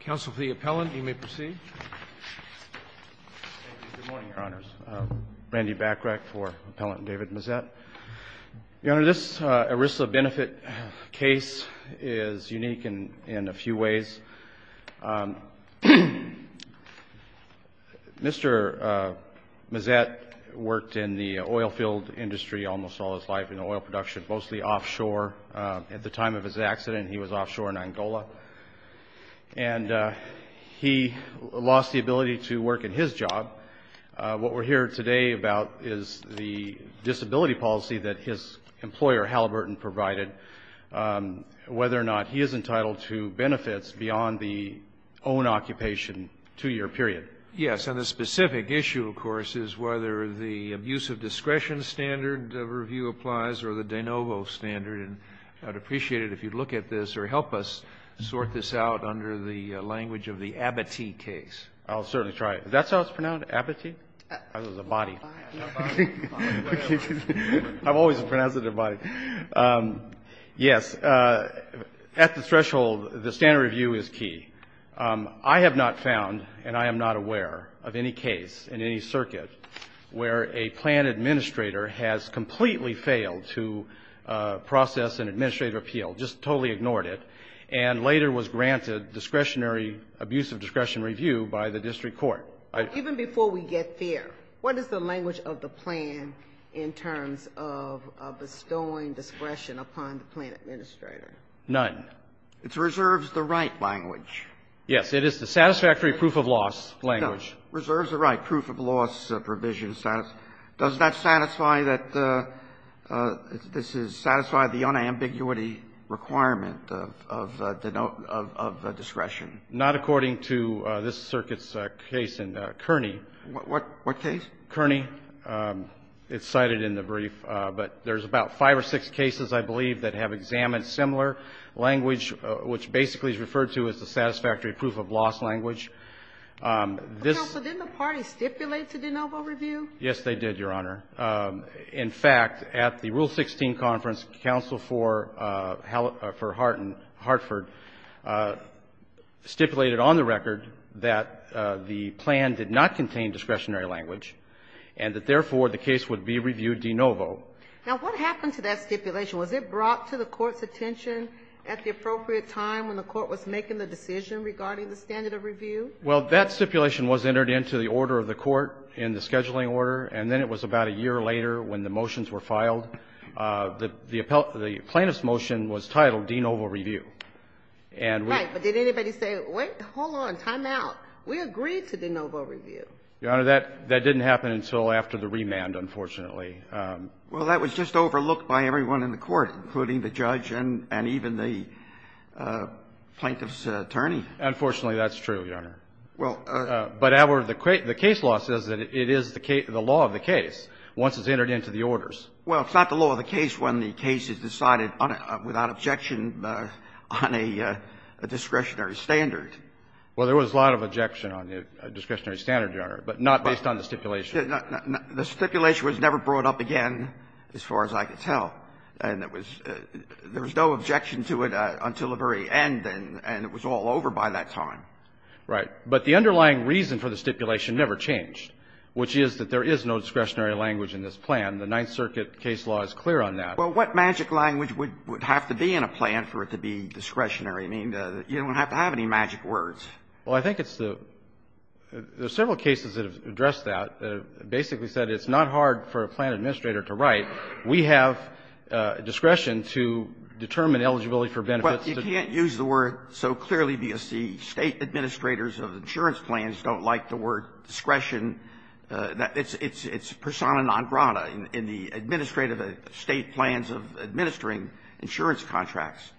counsel the appellant you may proceed Randy back rec for appellant David Mazet your honor this ERISA benefit case is unique in in a few ways mr. Mazet worked in the oilfield industry almost all his life in oil production mostly offshore at the time of his accident he was offshore in Angola and he lost the ability to work in his job what we're here today about is the disability policy that his employer Halliburton provided whether or not he is entitled to benefits beyond the own occupation two-year period yes and the specific issue of course is whether the abuse of discretion standard of review applies or the de novo standard and I'd appreciate it if you look at this or help us sort this out under the language of the abatis case I'll certainly try it that's how it's pronounced abatis I was a body I've always been as a device yes at the threshold the standard review is key I have not found and I am not aware of any case in any circuit where a plan administrator has completely failed to process an administrative appeal just totally ignored it and later was granted discretionary abuse of discretion review by the district court even before we get there what is the language of the plan in terms of bestowing discretion upon the plan administrator none it's reserves the right language yes it is the satisfactory proof of loss language reserves the right proof of loss provision status does that satisfy that this is satisfy the unambiguity requirement of the note of the discretion not according to this circuits case in Kearney what what case Kearney it's cited in the brief but there's about five or six cases I believe that have examined similar language which basically is referred to as the satisfactory proof of loss language yes they did your honor in fact at the rule 16 conference counsel for how for heart and Hartford stipulated on the record that the plan did not contain discretionary language and that therefore the case would be reviewed de novo now what happened to that stipulation was it brought to the court's attention at the appropriate time when the court was making the decision regarding the standard of review well that stipulation was entered into the order of the court in the scheduling order and then it was about a year later when the motions were filed the plaintiff's motion was titled de novo review and right but did anybody say wait hold on time out we agreed to de novo review your honor that that didn't happen until after the remand unfortunately well that was just overlooked by everyone in the court including the judge and and even the plaintiff's attorney unfortunately that's true your honor well but our the case law says that it is the law of the case once it's entered into the orders well it's not the law of the case when the case is decided on it without objection on a discretionary standard well there was a lot of objection on the discretionary standard your honor but not based on the stipulation the stipulation was never brought up again as far as I could tell and it was there was no objection to it until the very end and and it was all over by that time right but the underlying reason for the stipulation never changed which is that there is no discretionary language in this plan the ninth circuit case law is clear on that well what magic language would would have to be in a plan for it to be discretionary I mean you don't have to have any magic words well I think it's the there's several cases that have addressed that basically said it's not hard for a plan administrator to write we have discretion to determine eligibility for benefits but you can't use the word so clearly because the state administrators of the insurance plans don't like the word discretion that it's it's it's persona non grata in the administrative state plans of administering insurance contracts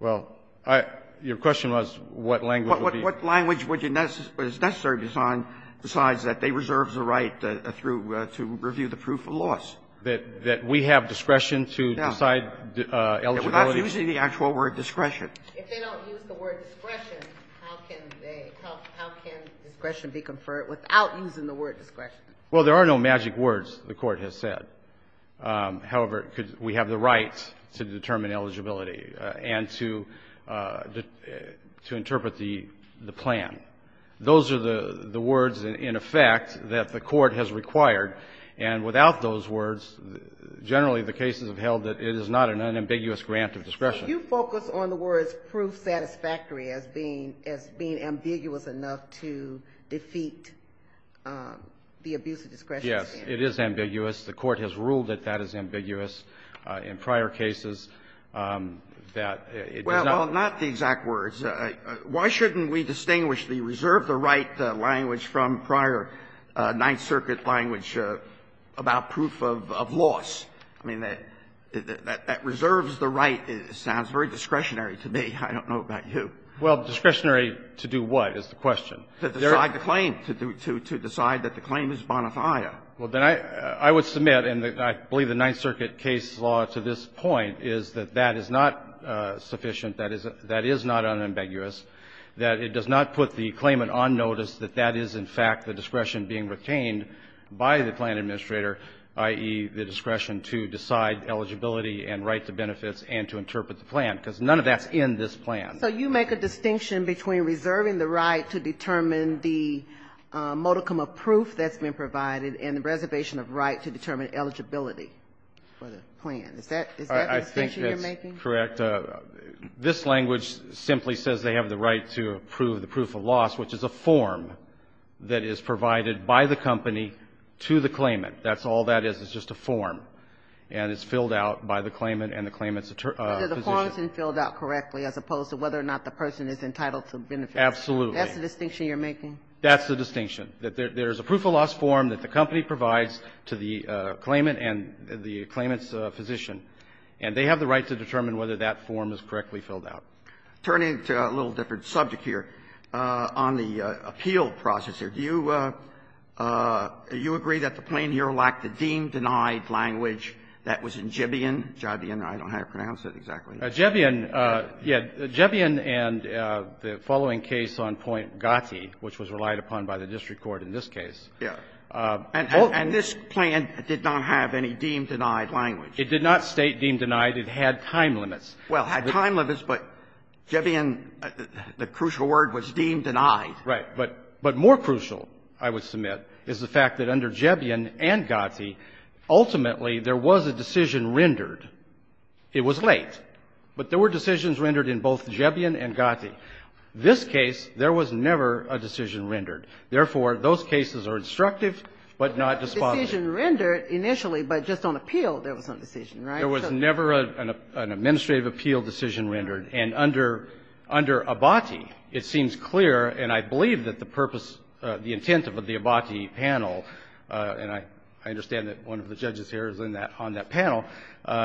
well I your question was what language what language would you know what is necessary for a plan administrator to decide decides that they reserve the right to review the proof of loss that that we have discretion to decide the actual word discretion if they don't use the word discretion how can they how can discretion be conferred without using the word discretion well there are no magic words the court has said however we have the rights to determine eligibility and to to interpret the the plan those are the the words in effect that the court has required and without those words generally the cases have held that it is not an unambiguous grant of discretion you focus on the words proof satisfactory as being as being ambiguous enough to defeat the abuse of discretion yes it is ambiguous the court has ruled that that is ambiguous in prior cases that it well not the exact words why shouldn't we distinguish the reserve the right language from prior Ninth Circuit language about proof of loss I mean that that that reserves the right it sounds very discretionary to me I don't know about you well discretionary to do what is the question to decide the claim to do to to decide that the claim is bonafide well then I I would submit and I believe the Ninth Circuit case law to this point is that that is not sufficient that is that is not unambiguous that it does not put the claimant on notice that that is in fact the discretion being retained by the plan administrator i.e. the discretion to decide eligibility and right to benefits and to interpret the plan because none of that's in this plan so you make a distinction between reserving the right to determine the modicum of proof that's been provided and the reservation of right to determine eligibility for the plan is that is that I think you're making correct this language simply says they have the right to approve the proof of loss which is a form that is provided by the company to the claimant that's all that is is just a form and it's filled out by the claimant and the claimant's position filled out correctly as opposed to whether or not the person is entitled to benefit absolutely that's the distinction you're making that's the distinction that there is a proof of loss form that the company provides to the claimant and the claimant's physician and they have the right to determine whether that form is correctly filled out turning to a little different subject here on the appeal process here do you you agree that the plane here lacked the deem denied language that was in Jibion Jibion I don't know how to pronounce it exactly Jibion yeah Jibion and the following case on point Gatti which was relied upon by the district court in this case was the case yeah and and this plan did not have any deem denied language it did not state deem denied it had time limits well had time limits but Jibion the crucial word was deem denied right but but more crucial I would submit is the fact that under Jibion and Gatti ultimately there was a decision rendered it was late but there were decisions rendered in both Jibion and Gatti this case there was never a decision rendered therefore those cases are instructive but not despotic decision rendered initially but just on appeal there was no decision right there was never an administrative appeal decision rendered and under under Abati it seems clear and I believe that the purpose the intent of the Abati panel and I I understand that one of the judges here is in that on that panel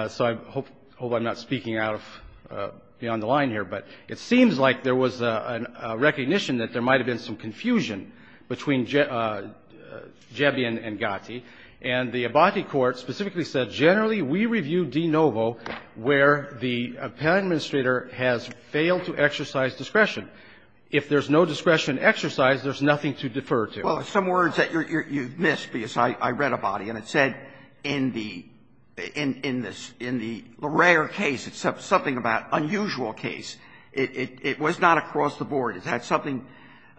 so I hope hope I'm not speaking out of beyond the line here but it seems like there was a recognition that there might have been some confusion between between Jibion and Gatti and the Abati court specifically said generally we review de novo where the panel administrator has failed to exercise discretion if there's no discretion exercise there's nothing to defer to well some words that you're you've missed because I I read Abati and it said in the in in this in the Leraire case it's something about unusual case it it it was not across the board it had something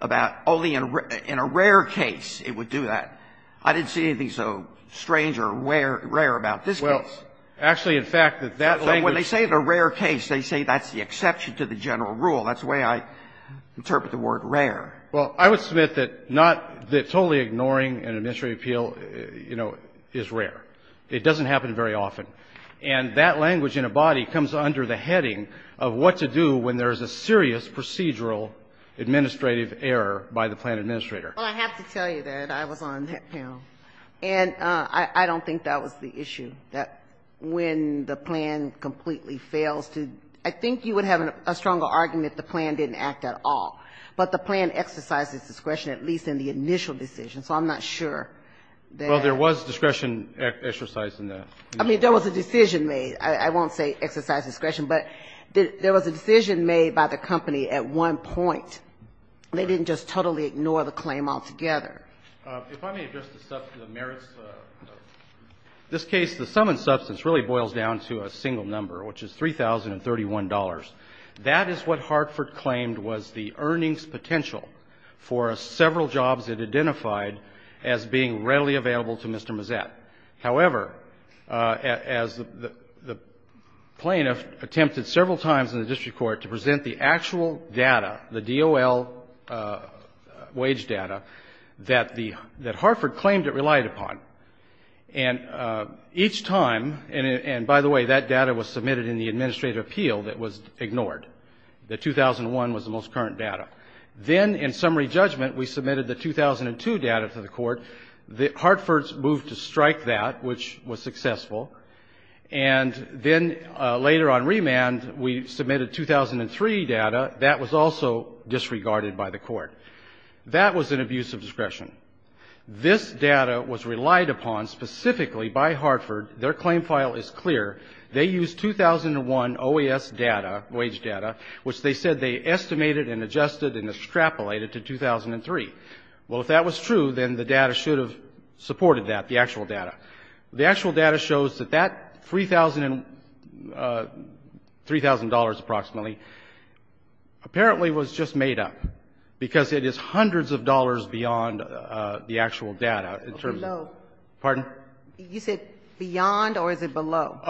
about only in a rare case it would do that I didn't see anything so strange or rare rare about this well actually in fact that that when they say the rare case they say that's the exception to the general rule that's the way I interpret the word rare well I would submit that not that totally ignoring an administrative appeal you know is rare it doesn't happen very often and that language in Abati comes under the heading of what to do when there is a serious procedural administrative error by the plan administrator and I don't think that was the issue that when the plan completely fails to I think you would have a stronger argument the plan didn't act at all but the plan exercises discretion at least in the initial decision so I'm not sure well there was discretion exercise in that I mean there was a decision made I won't say exercise discretion but there was a decision made by the company at one point they didn't just totally ignore the claim altogether if I may address the merits this case the sum and substance really boils down to a single number which is three thousand and thirty one dollars that is what Hartford claimed was the earnings potential for several jobs it identified as being readily available to Mr. Mazet however as the plaintiff attempted several times in the district court to present the actual data the DOL wage data that the that Hartford claimed it relied upon and each time and by the way that data was submitted in the administrative appeal that was ignored the 2001 was the most current data then in summary judgment we submitted the 2002 data to the court the Hartford's moved to strike that which was successful and then later on remand we submitted 2003 data that was also disregarded by the court that was an abuse of discretion this data was relied upon specifically by Hartford their claim file is clear they used 2001 OAS data wage data which they said they estimated and adjusted and extrapolated to 2003 well if that was true then the data should have supported that the actual data the actual data shows that that three thousand and three thousand dollars approximately apparently was just made up because it is hundreds of dollars beyond the actual data in terms of pardon you said beyond or is it below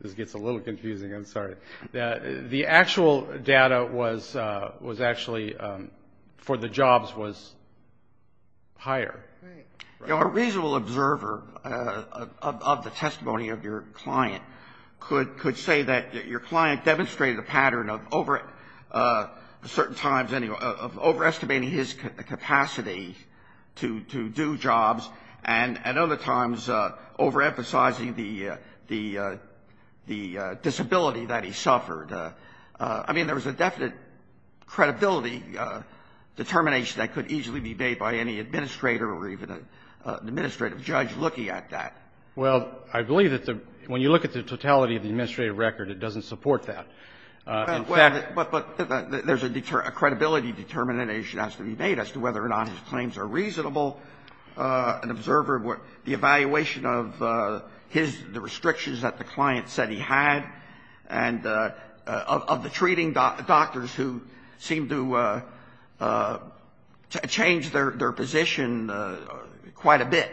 this gets a little confusing I'm sorry that the actual data was was actually for the jobs was higher you know a reasonable observer of the testimony of your client could could say that your client demonstrated a pattern of over a certain times any of overestimating his capacity to do jobs and at other times overemphasizing the the the disability that he suffered I mean there was a definite credibility determination that could easily be made by any administrator or even an administrative judge looking at that well I believe that the when you look at the totality of the administrative record it doesn't support that but there's a credibility determination has to be made as to whether or not his claims are reasonable an observer what the evaluation of his the restrictions that the client said he had and of the treating doctors who seem to change their position quite a bit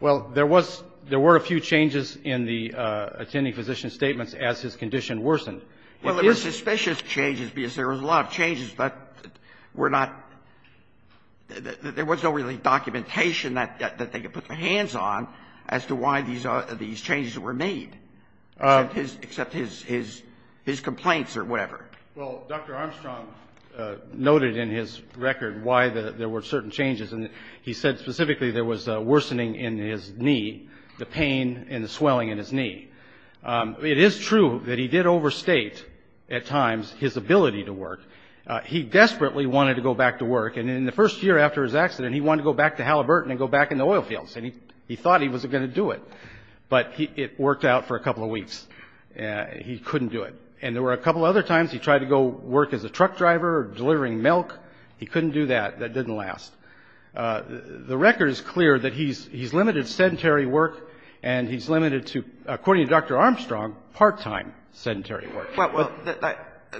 well there was there were a few changes in the attending physician statements as his condition worsened well it was suspicious changes because there was a lot of changes but we're not there was no really documentation that that they could put their hands on as to why these are these changes that were made his except his his his complaints or whatever well dr. Armstrong noted in his record why the there were certain changes and he said specifically there was worsening in his knee the pain and the swelling in his knee it is true that he did overstate at times his ability to work he desperately wanted to go back to work and in the first year after his accident he wanted to go back to Halliburton and go back in the oil fields and he he thought he wasn't going to do it but he it worked out for a couple of weeks yeah he couldn't do it and there were a couple other times he tried to go work as a truck driver delivering milk he couldn't do that that didn't last the record is clear that he's he's limited sedentary work and he's limited to according to dr. Armstrong part-time sedentary work well well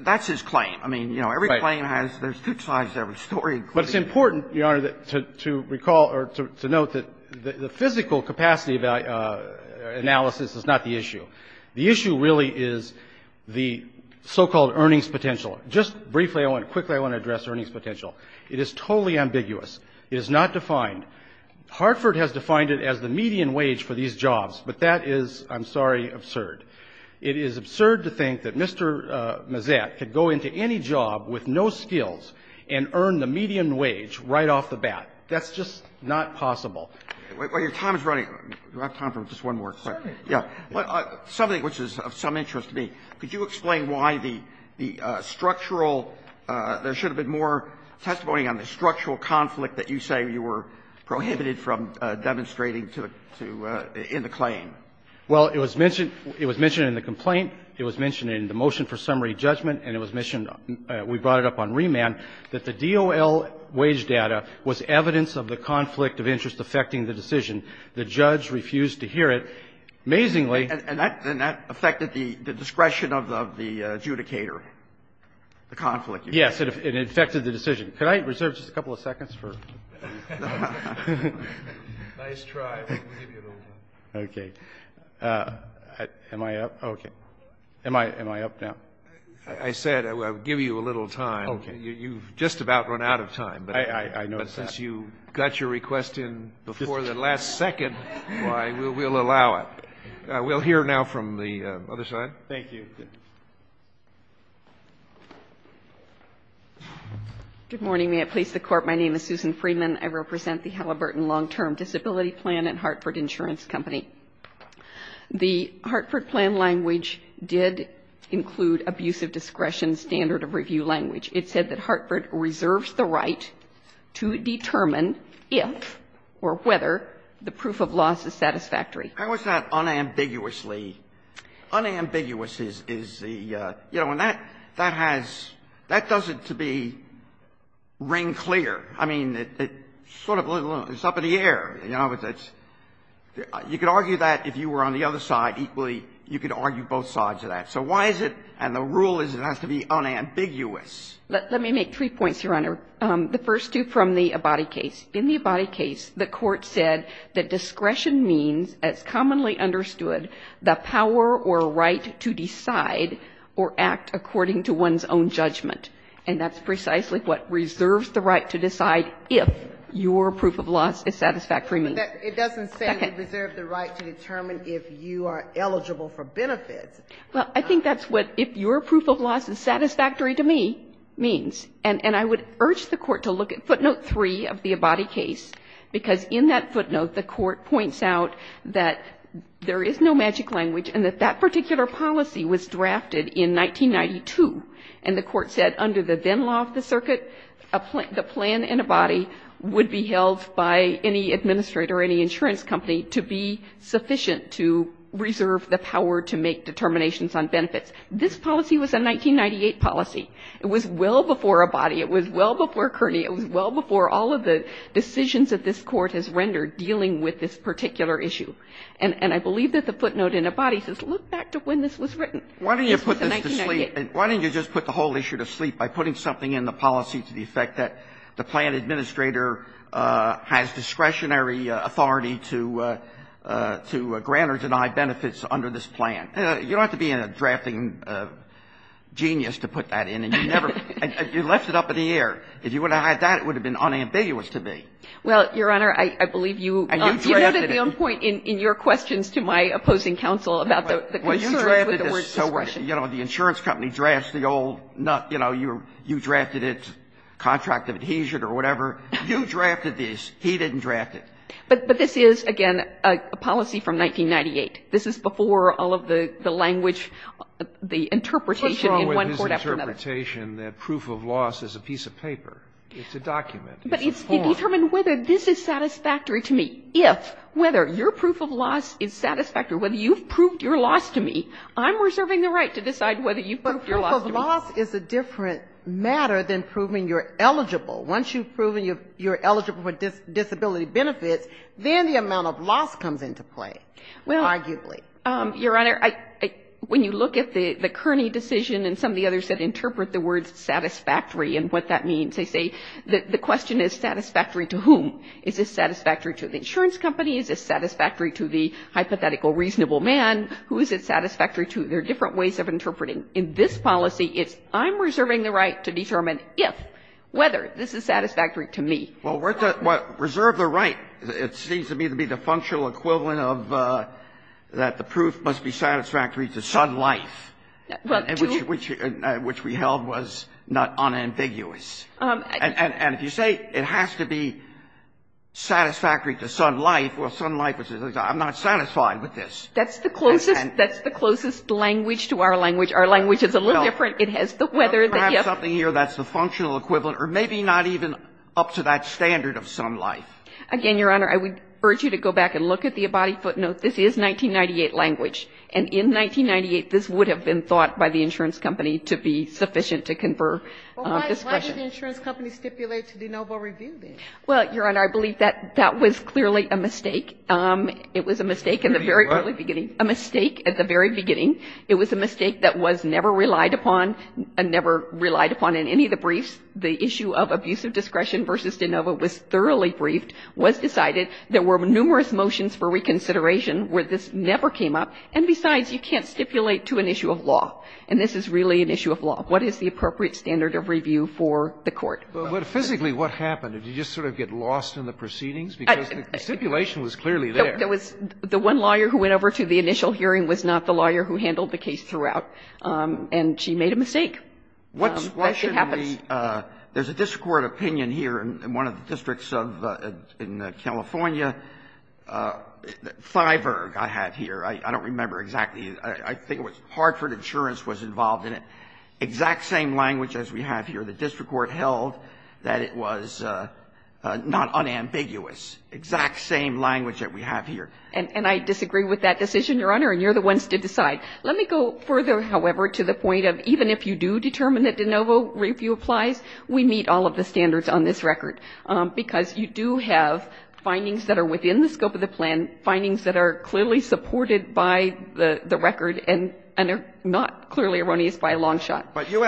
that's his claim I mean you know every claim has there's two sides every story but it's important your honor that to recall or to note that the physical capacity about analysis is not the issue the issue really is the so-called earnings potential just briefly I want quickly I want to address earnings potential it is totally unreliable ambiguous is not defined Hartford has defined it as the median wage for these jobs but that is I'm sorry absurd it is absurd to think that Mr. Mazet could go into any job with no skills and earn the median wage right off the bat that's just not possible your time is running we have time for just one more question yeah something which is of some interest to me could you explain why the the structural there should have been more testimony on the structural conflict that you say you were prohibited from demonstrating to to in the claim well it was mentioned it was mentioned in the complaint it was mentioned in the motion for summary judgment and it was mentioned we brought it up on remand that the DOL wage data was evidence of the conflict of interest affecting the decision the judge refused to hear it amazingly and that and that affected the discretion of the adjudicator the conflict yes it affected the decision can I reserve just a couple of seconds for okay am I up okay am I am I up now I said I'll give you a little time okay you've just about run out of time I know since you got your request in before the last second why we'll allow it. We'll hear now from the other side. Thank you. Good morning may it please the court my name is Susan Friedman I represent the Halliburton Long Term Disability Plan and Hartford Insurance company. The Hartford plan language did include abusive discretion standard of review language. It said that Hartford reserves the right to determine if or whether the proof of loss is satisfactory. How is that unambiguously unambiguous is the you know and that that has that doesn't to be ring clear. I mean it sort of it's up in the air you know it's it's you could argue that if you were on the other side equally you could argue both sides of that. So why is it and the rule is it has to be unambiguous. Let me make three points your Honor. The first two from the Abadi case. In the Abadi case the court said that discretion means as commonly understood the power or right to decide or act according to one's own judgment and that's precisely what reserves the right to decide if your proof of loss is satisfactory means. It doesn't say we reserve the right to determine if you are eligible for benefits. Well I think that's what if your proof of loss is satisfactory to me means and I would urge the court to look at footnote three of the Abadi case because in that footnote the court points out that there is no magic language and that that particular policy was drafted in 1992 and the court said under the then law of the circuit the plan in Abadi would be held by any administrator or any insurance company to be sufficient to reserve the power to make determinations on benefits. This policy was a 1998 policy. It was well before Abadi. It was well before Kearney. It was well before all of the decisions that this Court has rendered dealing with this particular issue and I believe that the footnote in Abadi says look back to when this was written. Why don't you put this to sleep? Why don't you just put the whole issue to sleep by putting something in the policy to the effect that the plan administrator has discretionary authority to grant or deny benefits under this plan? You don't have to be a drafting genius to put that in and you never you left it up in the air. If you would have had that it would have been unambiguous to me. Well, Your Honor, I believe you. You noted at one point in your questions to my opposing counsel about the concern with the word discretion. You know, the insurance company drafts the old, you know, you drafted it, contract of adhesion or whatever. You drafted this. He didn't draft it. But this is, again, a policy from 1998. This is before all of the language, the interpretation in one court after another. What's wrong with his interpretation that proof of loss is a piece of paper? It's a document. It's a form. But it's to determine whether this is satisfactory to me. If, whether your proof of loss is satisfactory, whether you've proved your loss to me, I'm reserving the right to decide whether you've proved your loss to me. But proof of loss is a different matter than proving you're eligible. Once you've proven you're eligible for disability benefits, then the amount of loss comes into play, arguably. Well, Your Honor, I, when you look at the Kearney decision and some of the others that interpret the words satisfactory and what that means, they say the question is satisfactory to whom? Is it satisfactory to the insurance company? Is it satisfactory to the hypothetical reasonable man? Who is it satisfactory to? There are different ways of interpreting. In this policy, it's I'm reserving the right to determine if, whether, this is satisfactory to me. Well, reserve the right, it seems to me to be the functional equivalent of that the proof must be satisfactory to Sun Life, which we held was not unambiguous. And if you say it has to be satisfactory to Sun Life, well, Sun Life would say I'm not satisfied with this. That's the closest, that's the closest language to our language. Our language is a little different. It has the whether. Perhaps something here that's the functional equivalent or maybe not even up to that standard of Sun Life. Again, Your Honor, I would urge you to go back and look at the Abadi footnote. This is 1998 language. And in 1998, this would have been thought by the insurance company to be sufficient to confer discretion. Why did the insurance company stipulate to do no more review then? Well, Your Honor, I believe that that was clearly a mistake. It was a mistake in the very early beginning. A mistake at the very beginning. It was a mistake that was never relied upon and never relied upon in any of the briefs. The issue of abusive discretion versus de novo was thoroughly briefed, was decided. There were numerous motions for reconsideration where this never came up. And besides, you can't stipulate to an issue of law. And this is really an issue of law. What is the appropriate standard of review for the Court? But physically what happened? Did you just sort of get lost in the proceedings? Because the stipulation was clearly there. There was the one lawyer who went over to the initial hearing was not the lawyer who handled the case throughout. And she made a mistake. That's what happens. There's a district court opinion here in one of the districts of California. Thiverg, I have here. I don't remember exactly. I think it was Hartford Insurance was involved in it. Exact same language as we have here. And I disagree with that decision, Your Honor, and you're the ones to decide. Let me go further, however, to the point of even if you do determine that de novo review applies, we meet all of the standards on this record, because you do have findings that are within the scope of the plan, findings that are clearly supported by the record and are not clearly erroneous by a long shot. case of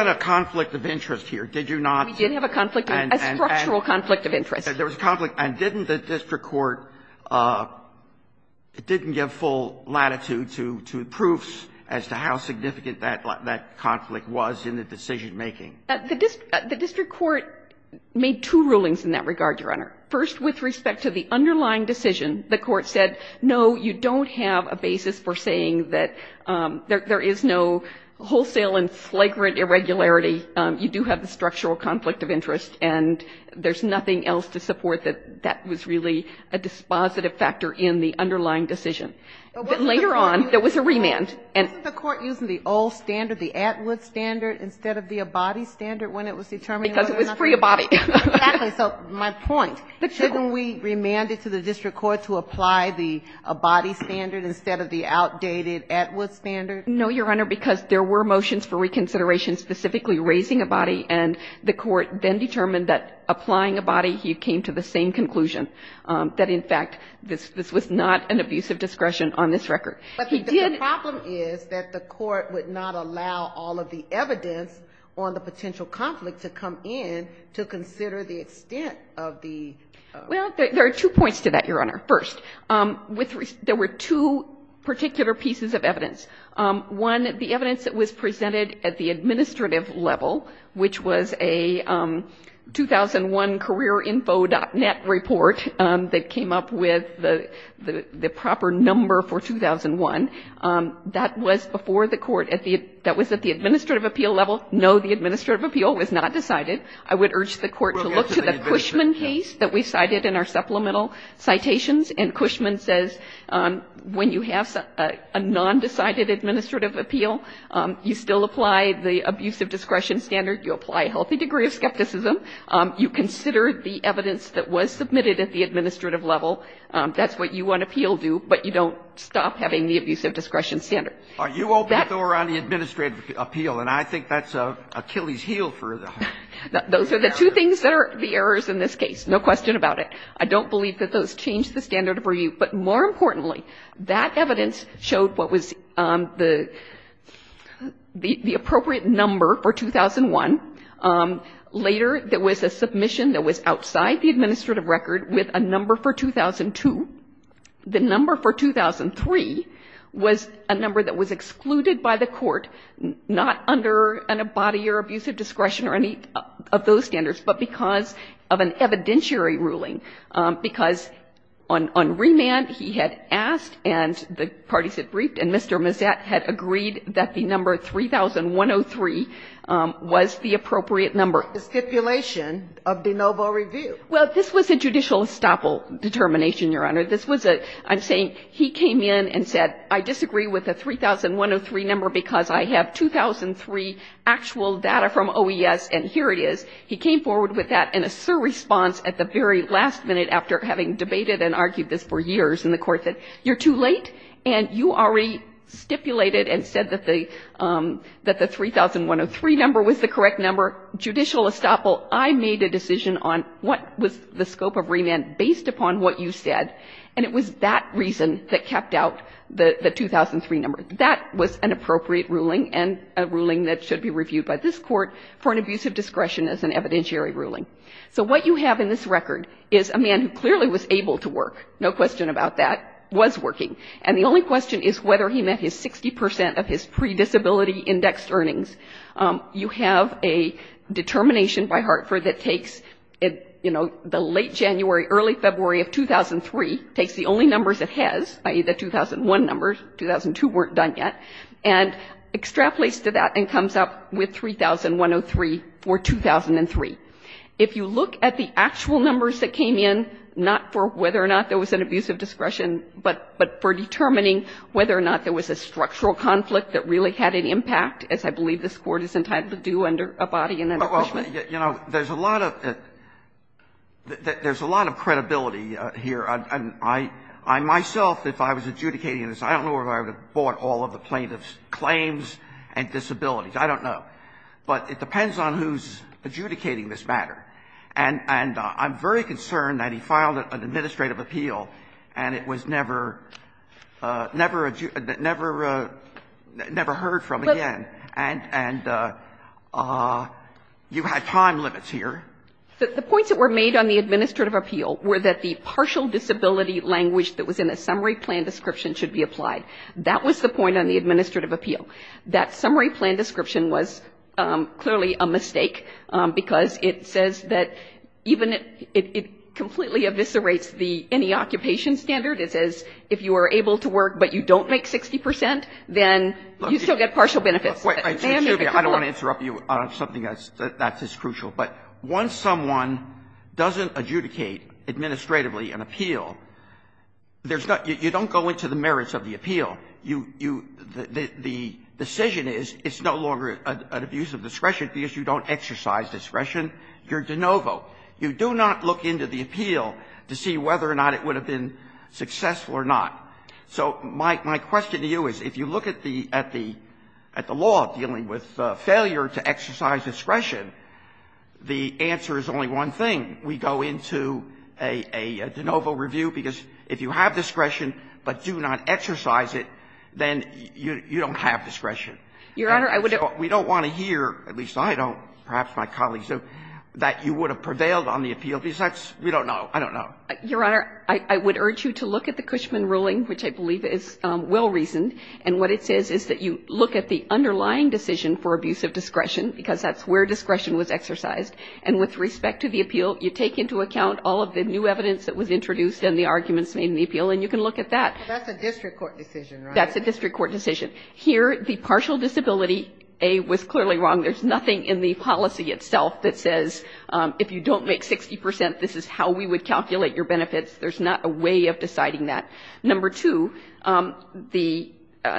De Novo? Did you not? We did have a conflict, a structural conflict of interest. There was a conflict. And didn't the district court, it didn't give full latitude to proofs as to how significant that conflict was in the decision-making? The district court made two rulings in that regard, Your Honor. First, with respect to the underlying decision, the court said, no, you don't have a basis for saying that there is no wholesale and flagrant irregularity. You do have the structural conflict of interest, and there's nothing else to support that that was really a dispositive factor in the underlying decision. But later on, there was a remand. And the court used the old standard, the Atwood standard, instead of the Abadi standard when it was determined whether or not to do it. Because it was pre-Abadi. Exactly. So my point, shouldn't we remand it to the district court to apply the Abadi standard instead of the outdated Atwood standard? No, Your Honor, because there were motions for reconsideration specifically raising Abadi, and the court then determined that applying Abadi, he came to the same conclusion, that in fact, this was not an abuse of discretion on this record. He did But the problem is that the court would not allow all of the evidence on the potential conflict to come in to consider the extent of the Well, there are two points to that, Your Honor. First, there were two particular pieces of evidence. One, the evidence that was presented at the administrative level, which was a 2001 careerinfo.net report that came up with the proper number for 2001, that was before the court at the That was at the administrative appeal level? No, the administrative appeal was not decided. I would urge the court to look to the Cushman case that we cited in our supplemental citations, and Cushman says, when you have a nondecided administrative appeal, you still apply the abuse of discretion standard, you apply a healthy degree of skepticism, you consider the evidence that was submitted at the administrative level, that's what you want to appeal to, but you don't stop having the abuse of discretion standard. Are you open to throw around the administrative appeal? And I think that's Achilles' heel for the whole thing. Those are the two things that are the errors in this case, no question about it. I don't believe that those change the standard of review. But more importantly, that evidence showed what was the appropriate number for 2001. Later, there was a submission that was outside the administrative record with a number for 2002. The number for 2003 was a number that was excluded by the court, not under an abadie or abuse of discretion or any of those standards, but because of an evidentiary ruling, because on remand, he had asked, and the parties had briefed, and Mr. Mazet had agreed that the number 3103 was the appropriate number. The stipulation of de novo review. Well, this was a judicial estoppel determination, Your Honor. This was a, I'm saying, he came in and said, I disagree with the 3103 number because I have 2003 actual data from OES, and here it is. He came forward with that in a sur response at the very last minute after having debated and argued this for years, and the court said, you're too late, and you already stipulated and said that the 3103 number was the correct number. Judicial estoppel. I made a decision on what was the scope of remand based upon what you said, and it was that reason that kept out the 2003 number. That was an appropriate ruling and a ruling that should be reviewed by this Court for an abuse of discretion as an evidentiary ruling. So what you have in this record is a man who clearly was able to work, no question about that, was working, and the only question is whether he met his 60 percent of his pre-disability indexed earnings. You have a determination by Hartford that takes, you know, the late January, early February of 2003, takes the only numbers it has, i.e., the 2001 numbers, 2002 weren't done yet, and extrapolates to that and comes up with 3103 for 2003. If you look at the actual numbers that came in, not for whether or not there was an abuse of discretion, but for determining whether or not there was a structural conflict that really had an impact, as I believe this Court is entitled to do under Abadi and under Cushman. Verrilli, you know, there's a lot of credibility here. I myself, if I was adjudicating this, I don't know if I would have bought all of the plaintiff's claims and disabilities. I don't know. But it depends on who's adjudicating this matter. And I'm very concerned that he filed an administrative appeal and it was never adjudicated, never heard from again, and you had time limits here. The points that were made on the administrative appeal were that the partial disability language that was in the summary plan description should be applied. That was the point on the administrative appeal. That summary plan description was clearly a mistake because it says that even if it completely eviscerates the any occupation standard, it says if you are able to work but you don't make 60 percent, then you still get partial benefits. Verrilli, I don't want to interrupt you on something that's as crucial. But once someone doesn't adjudicate administratively an appeal, there's not you don't go into the merits of the appeal. You, you, the decision is it's no longer an abuse of discretion because you don't exercise discretion. You're de novo. You do not look into the appeal to see whether or not it would have been successful or not. So my, my question to you is if you look at the, at the, at the law dealing with failure to exercise discretion, the answer is only one thing. We go into a, a de novo review because if you have discretion but do not exercise it, then you, you don't have discretion. Your Honor, I would have to go into the appeal to see whether or not it would have been successful or not. We don't want to hear, at least I don't, perhaps my colleagues do, that you would have prevailed on the appeal because that's, we don't know. I don't know. Your Honor, I, I would urge you to look at the Cushman ruling, which I believe is well-reasoned, and what it says is that you look at the underlying decision for abuse of discretion, because that's where discretion was exercised, and with respect to the appeal, you take into account all of the new evidence that was introduced and the arguments made in the appeal, and you can look at that. That's a district court decision, right? That's a district court decision. Here, the partial disability, A, was clearly wrong. There's nothing in the policy itself that says, if you don't make 60 percent, this is how we would calculate your benefits. There's not a way of deciding that. Number two, the,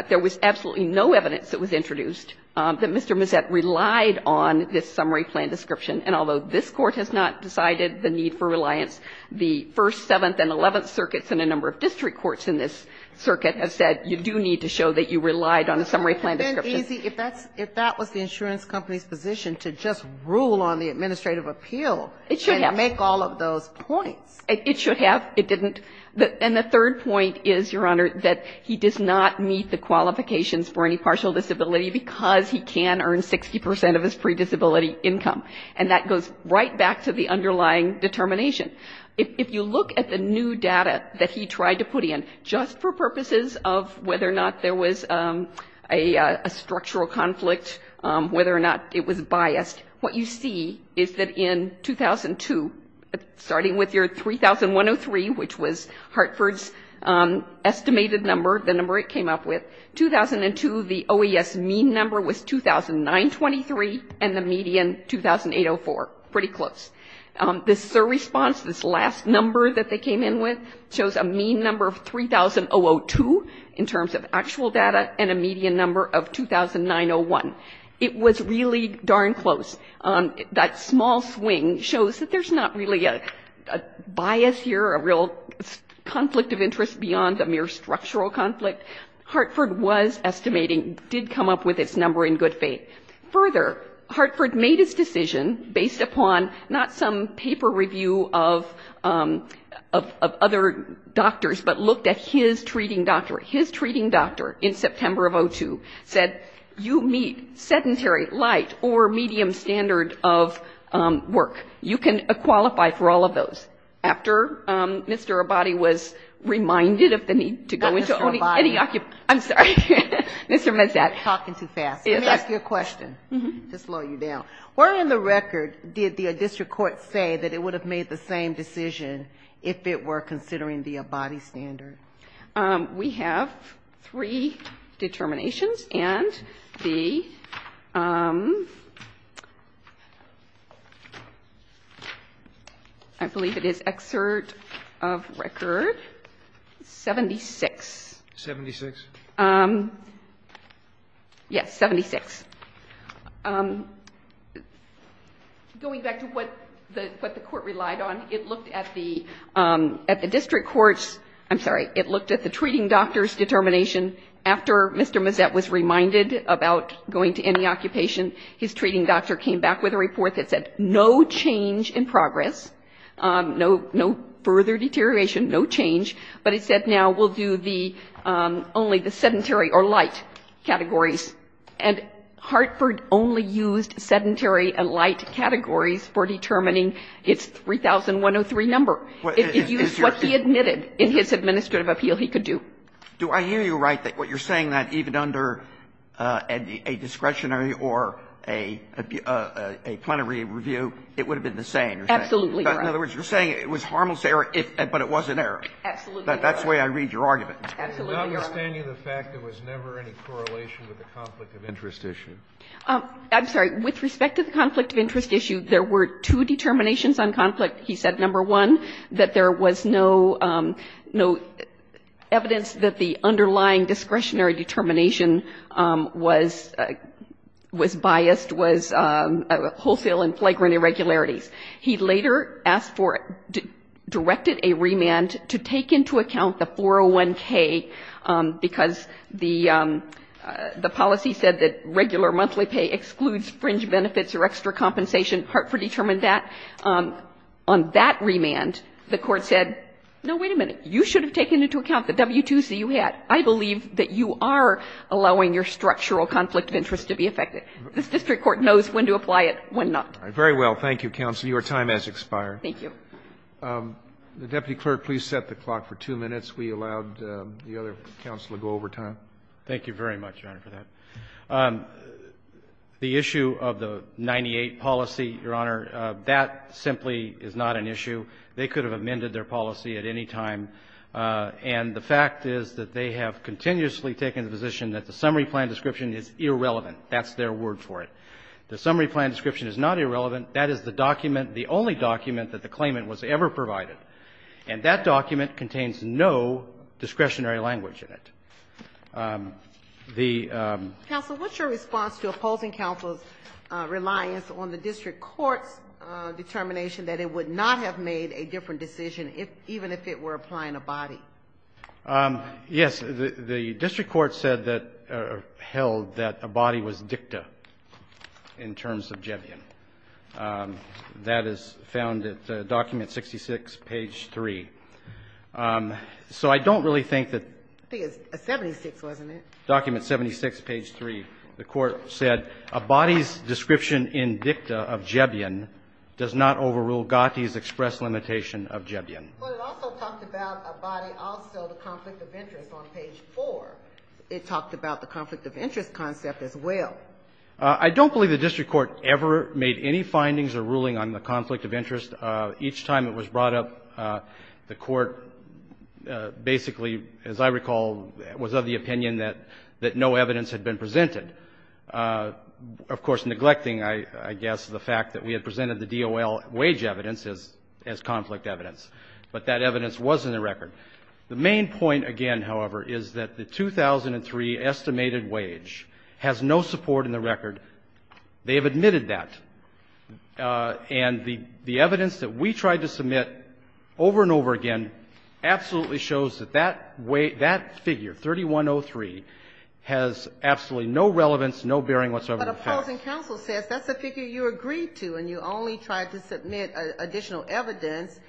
there was absolutely no evidence that was introduced that Mr. Mazzett relied on this summary plan description, and although this Court has not decided the need for reliance, the first, seventh, and eleventh circuits and a number of district courts in this circuit have said you do need to show that you relied on a summary plan description. If that was the insurance company's position to just rule on the administrative appeal and make all of those points. It should have. It didn't. And the third point is, Your Honor, that he does not meet the qualifications for any partial disability because he can earn 60 percent of his pre-disability income, and that goes right back to the underlying determination. If you look at the new data that he tried to put in, just for purposes of whether or not there was a structural conflict, whether or not it was biased, what you see is that in 2002, starting with your 3,103, which was Hartford's estimated number, the number it came up with, 2002, the OES mean number was 2,923, and the median, 2,804. Pretty close. This sur-response, this last number that they came in with, shows a mean number of 3,002 in terms of actual data and a median number of 2,901. It was really darn close. That small swing shows that there's not really a bias here, a real conflict of interest beyond a mere structural conflict. Hartford was estimating, did come up with its number in good faith. Further, Hartford made his decision based upon not some paper review of other doctors, but looked at his treating doctor. His treating doctor in September of 2002 said, you meet sedentary, light, or medium standard of work. You can qualify for all of those. After Mr. Abadi was reminded of the need to go into owning any occupant. I'm sorry. Mr. Mazat. Talking too fast. Let me ask you a question, to slow you down. Where in the record did the district court say that it would have made the same decision if it were considering the Abadi standard? We have three determinations and the, I believe it is excerpt of record 76. 76? Yes, 76. Going back to what the court relied on, it looked at the district court's, I'm sorry, it looked at the treating doctor's determination after Mr. Mazat was reminded about going to any occupation. His treating doctor came back with a report that said, no change in progress, no further deterioration, no change, but it said now we'll do the, only the sedentary or light categories. And Hartford only used sedentary and light categories for determining its 3103 number. It used what he admitted in his administrative appeal he could do. Do I hear you right that what you're saying that even under a discretionary or a plenary review, it would have been the same? Absolutely right. In other words, you're saying it was harmless error, but it was an error. Absolutely right. That's the way I read your argument. Absolutely right. I understand you the fact there was never any correlation with the conflict of interest issue. I'm sorry. With respect to the conflict of interest issue, there were two determinations on conflict. He said, number one, that there was no evidence that the underlying discretionary determination was biased, was wholesale and flagrant irregularities. He later asked for, directed a remand to take into account the 401k, because the policy said that regular monthly pay excludes fringe benefits or extra compensation. Hartford determined that. On that remand, the Court said, no, wait a minute, you should have taken into account the W2C you had. I believe that you are allowing your structural conflict of interest to be affected. This district court knows when to apply it, when not. Very well. Thank you, counsel. Your time has expired. Thank you. The deputy clerk, please set the clock for two minutes. We allowed the other counsel to go over time. Thank you very much, Your Honor, for that. The issue of the 98 policy, Your Honor, that simply is not an issue. They could have amended their policy at any time. And the fact is that they have continuously taken the position that the summary plan description is irrelevant. That's their word for it. The summary plan description is not irrelevant. That is the document, the only document that the claimant was ever provided. And that document contains no discretionary language in it. The ---- Counsel, what's your response to opposing counsel's reliance on the district court's determination that it would not have made a different decision, even if it were applying a body? Yes. The district court said that or held that a body was dicta. In terms of Jebion, that is found at document 66, page 3. So I don't really think that ---- I think it's 76, wasn't it? Document 76, page 3. The court said a body's description in dicta of Jebion does not overrule Gatti's express limitation of Jebion. But it also talked about a body, also the conflict of interest on page 4. It talked about the conflict of interest concept as well. I don't believe the district court ever made any findings or ruling on the conflict of interest. Each time it was brought up, the court basically, as I recall, was of the opinion that no evidence had been presented, of course, neglecting, I guess, the fact that we had presented the DOL wage evidence as conflict evidence. But that evidence was in the record. The main point, again, however, is that the 2003 estimated wage has no support in the record. They have admitted that. And the evidence that we tried to submit over and over again absolutely shows that that figure, 3103, has absolutely no relevance, no bearing whatsoever on the facts. But opposing counsel says that's a figure you agreed to, and you only tried to submit additional evidence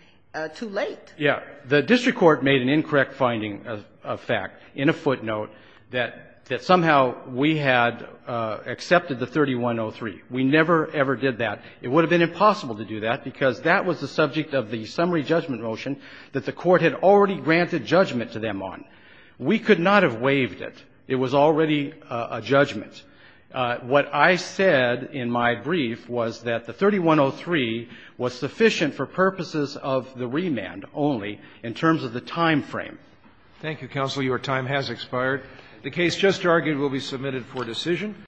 too late. Yeah. The district court made an incorrect finding of fact, in a footnote, that somehow we had accepted the 3103. We never, ever did that. It would have been impossible to do that, because that was the subject of the summary judgment motion that the Court had already granted judgment to them on. We could not have waived it. It was already a judgment. What I said in my brief was that the 3103 was sufficient for purposes of the remand only in terms of the time frame. Thank you, counsel. Your time has expired. The case just argued will be submitted for decision.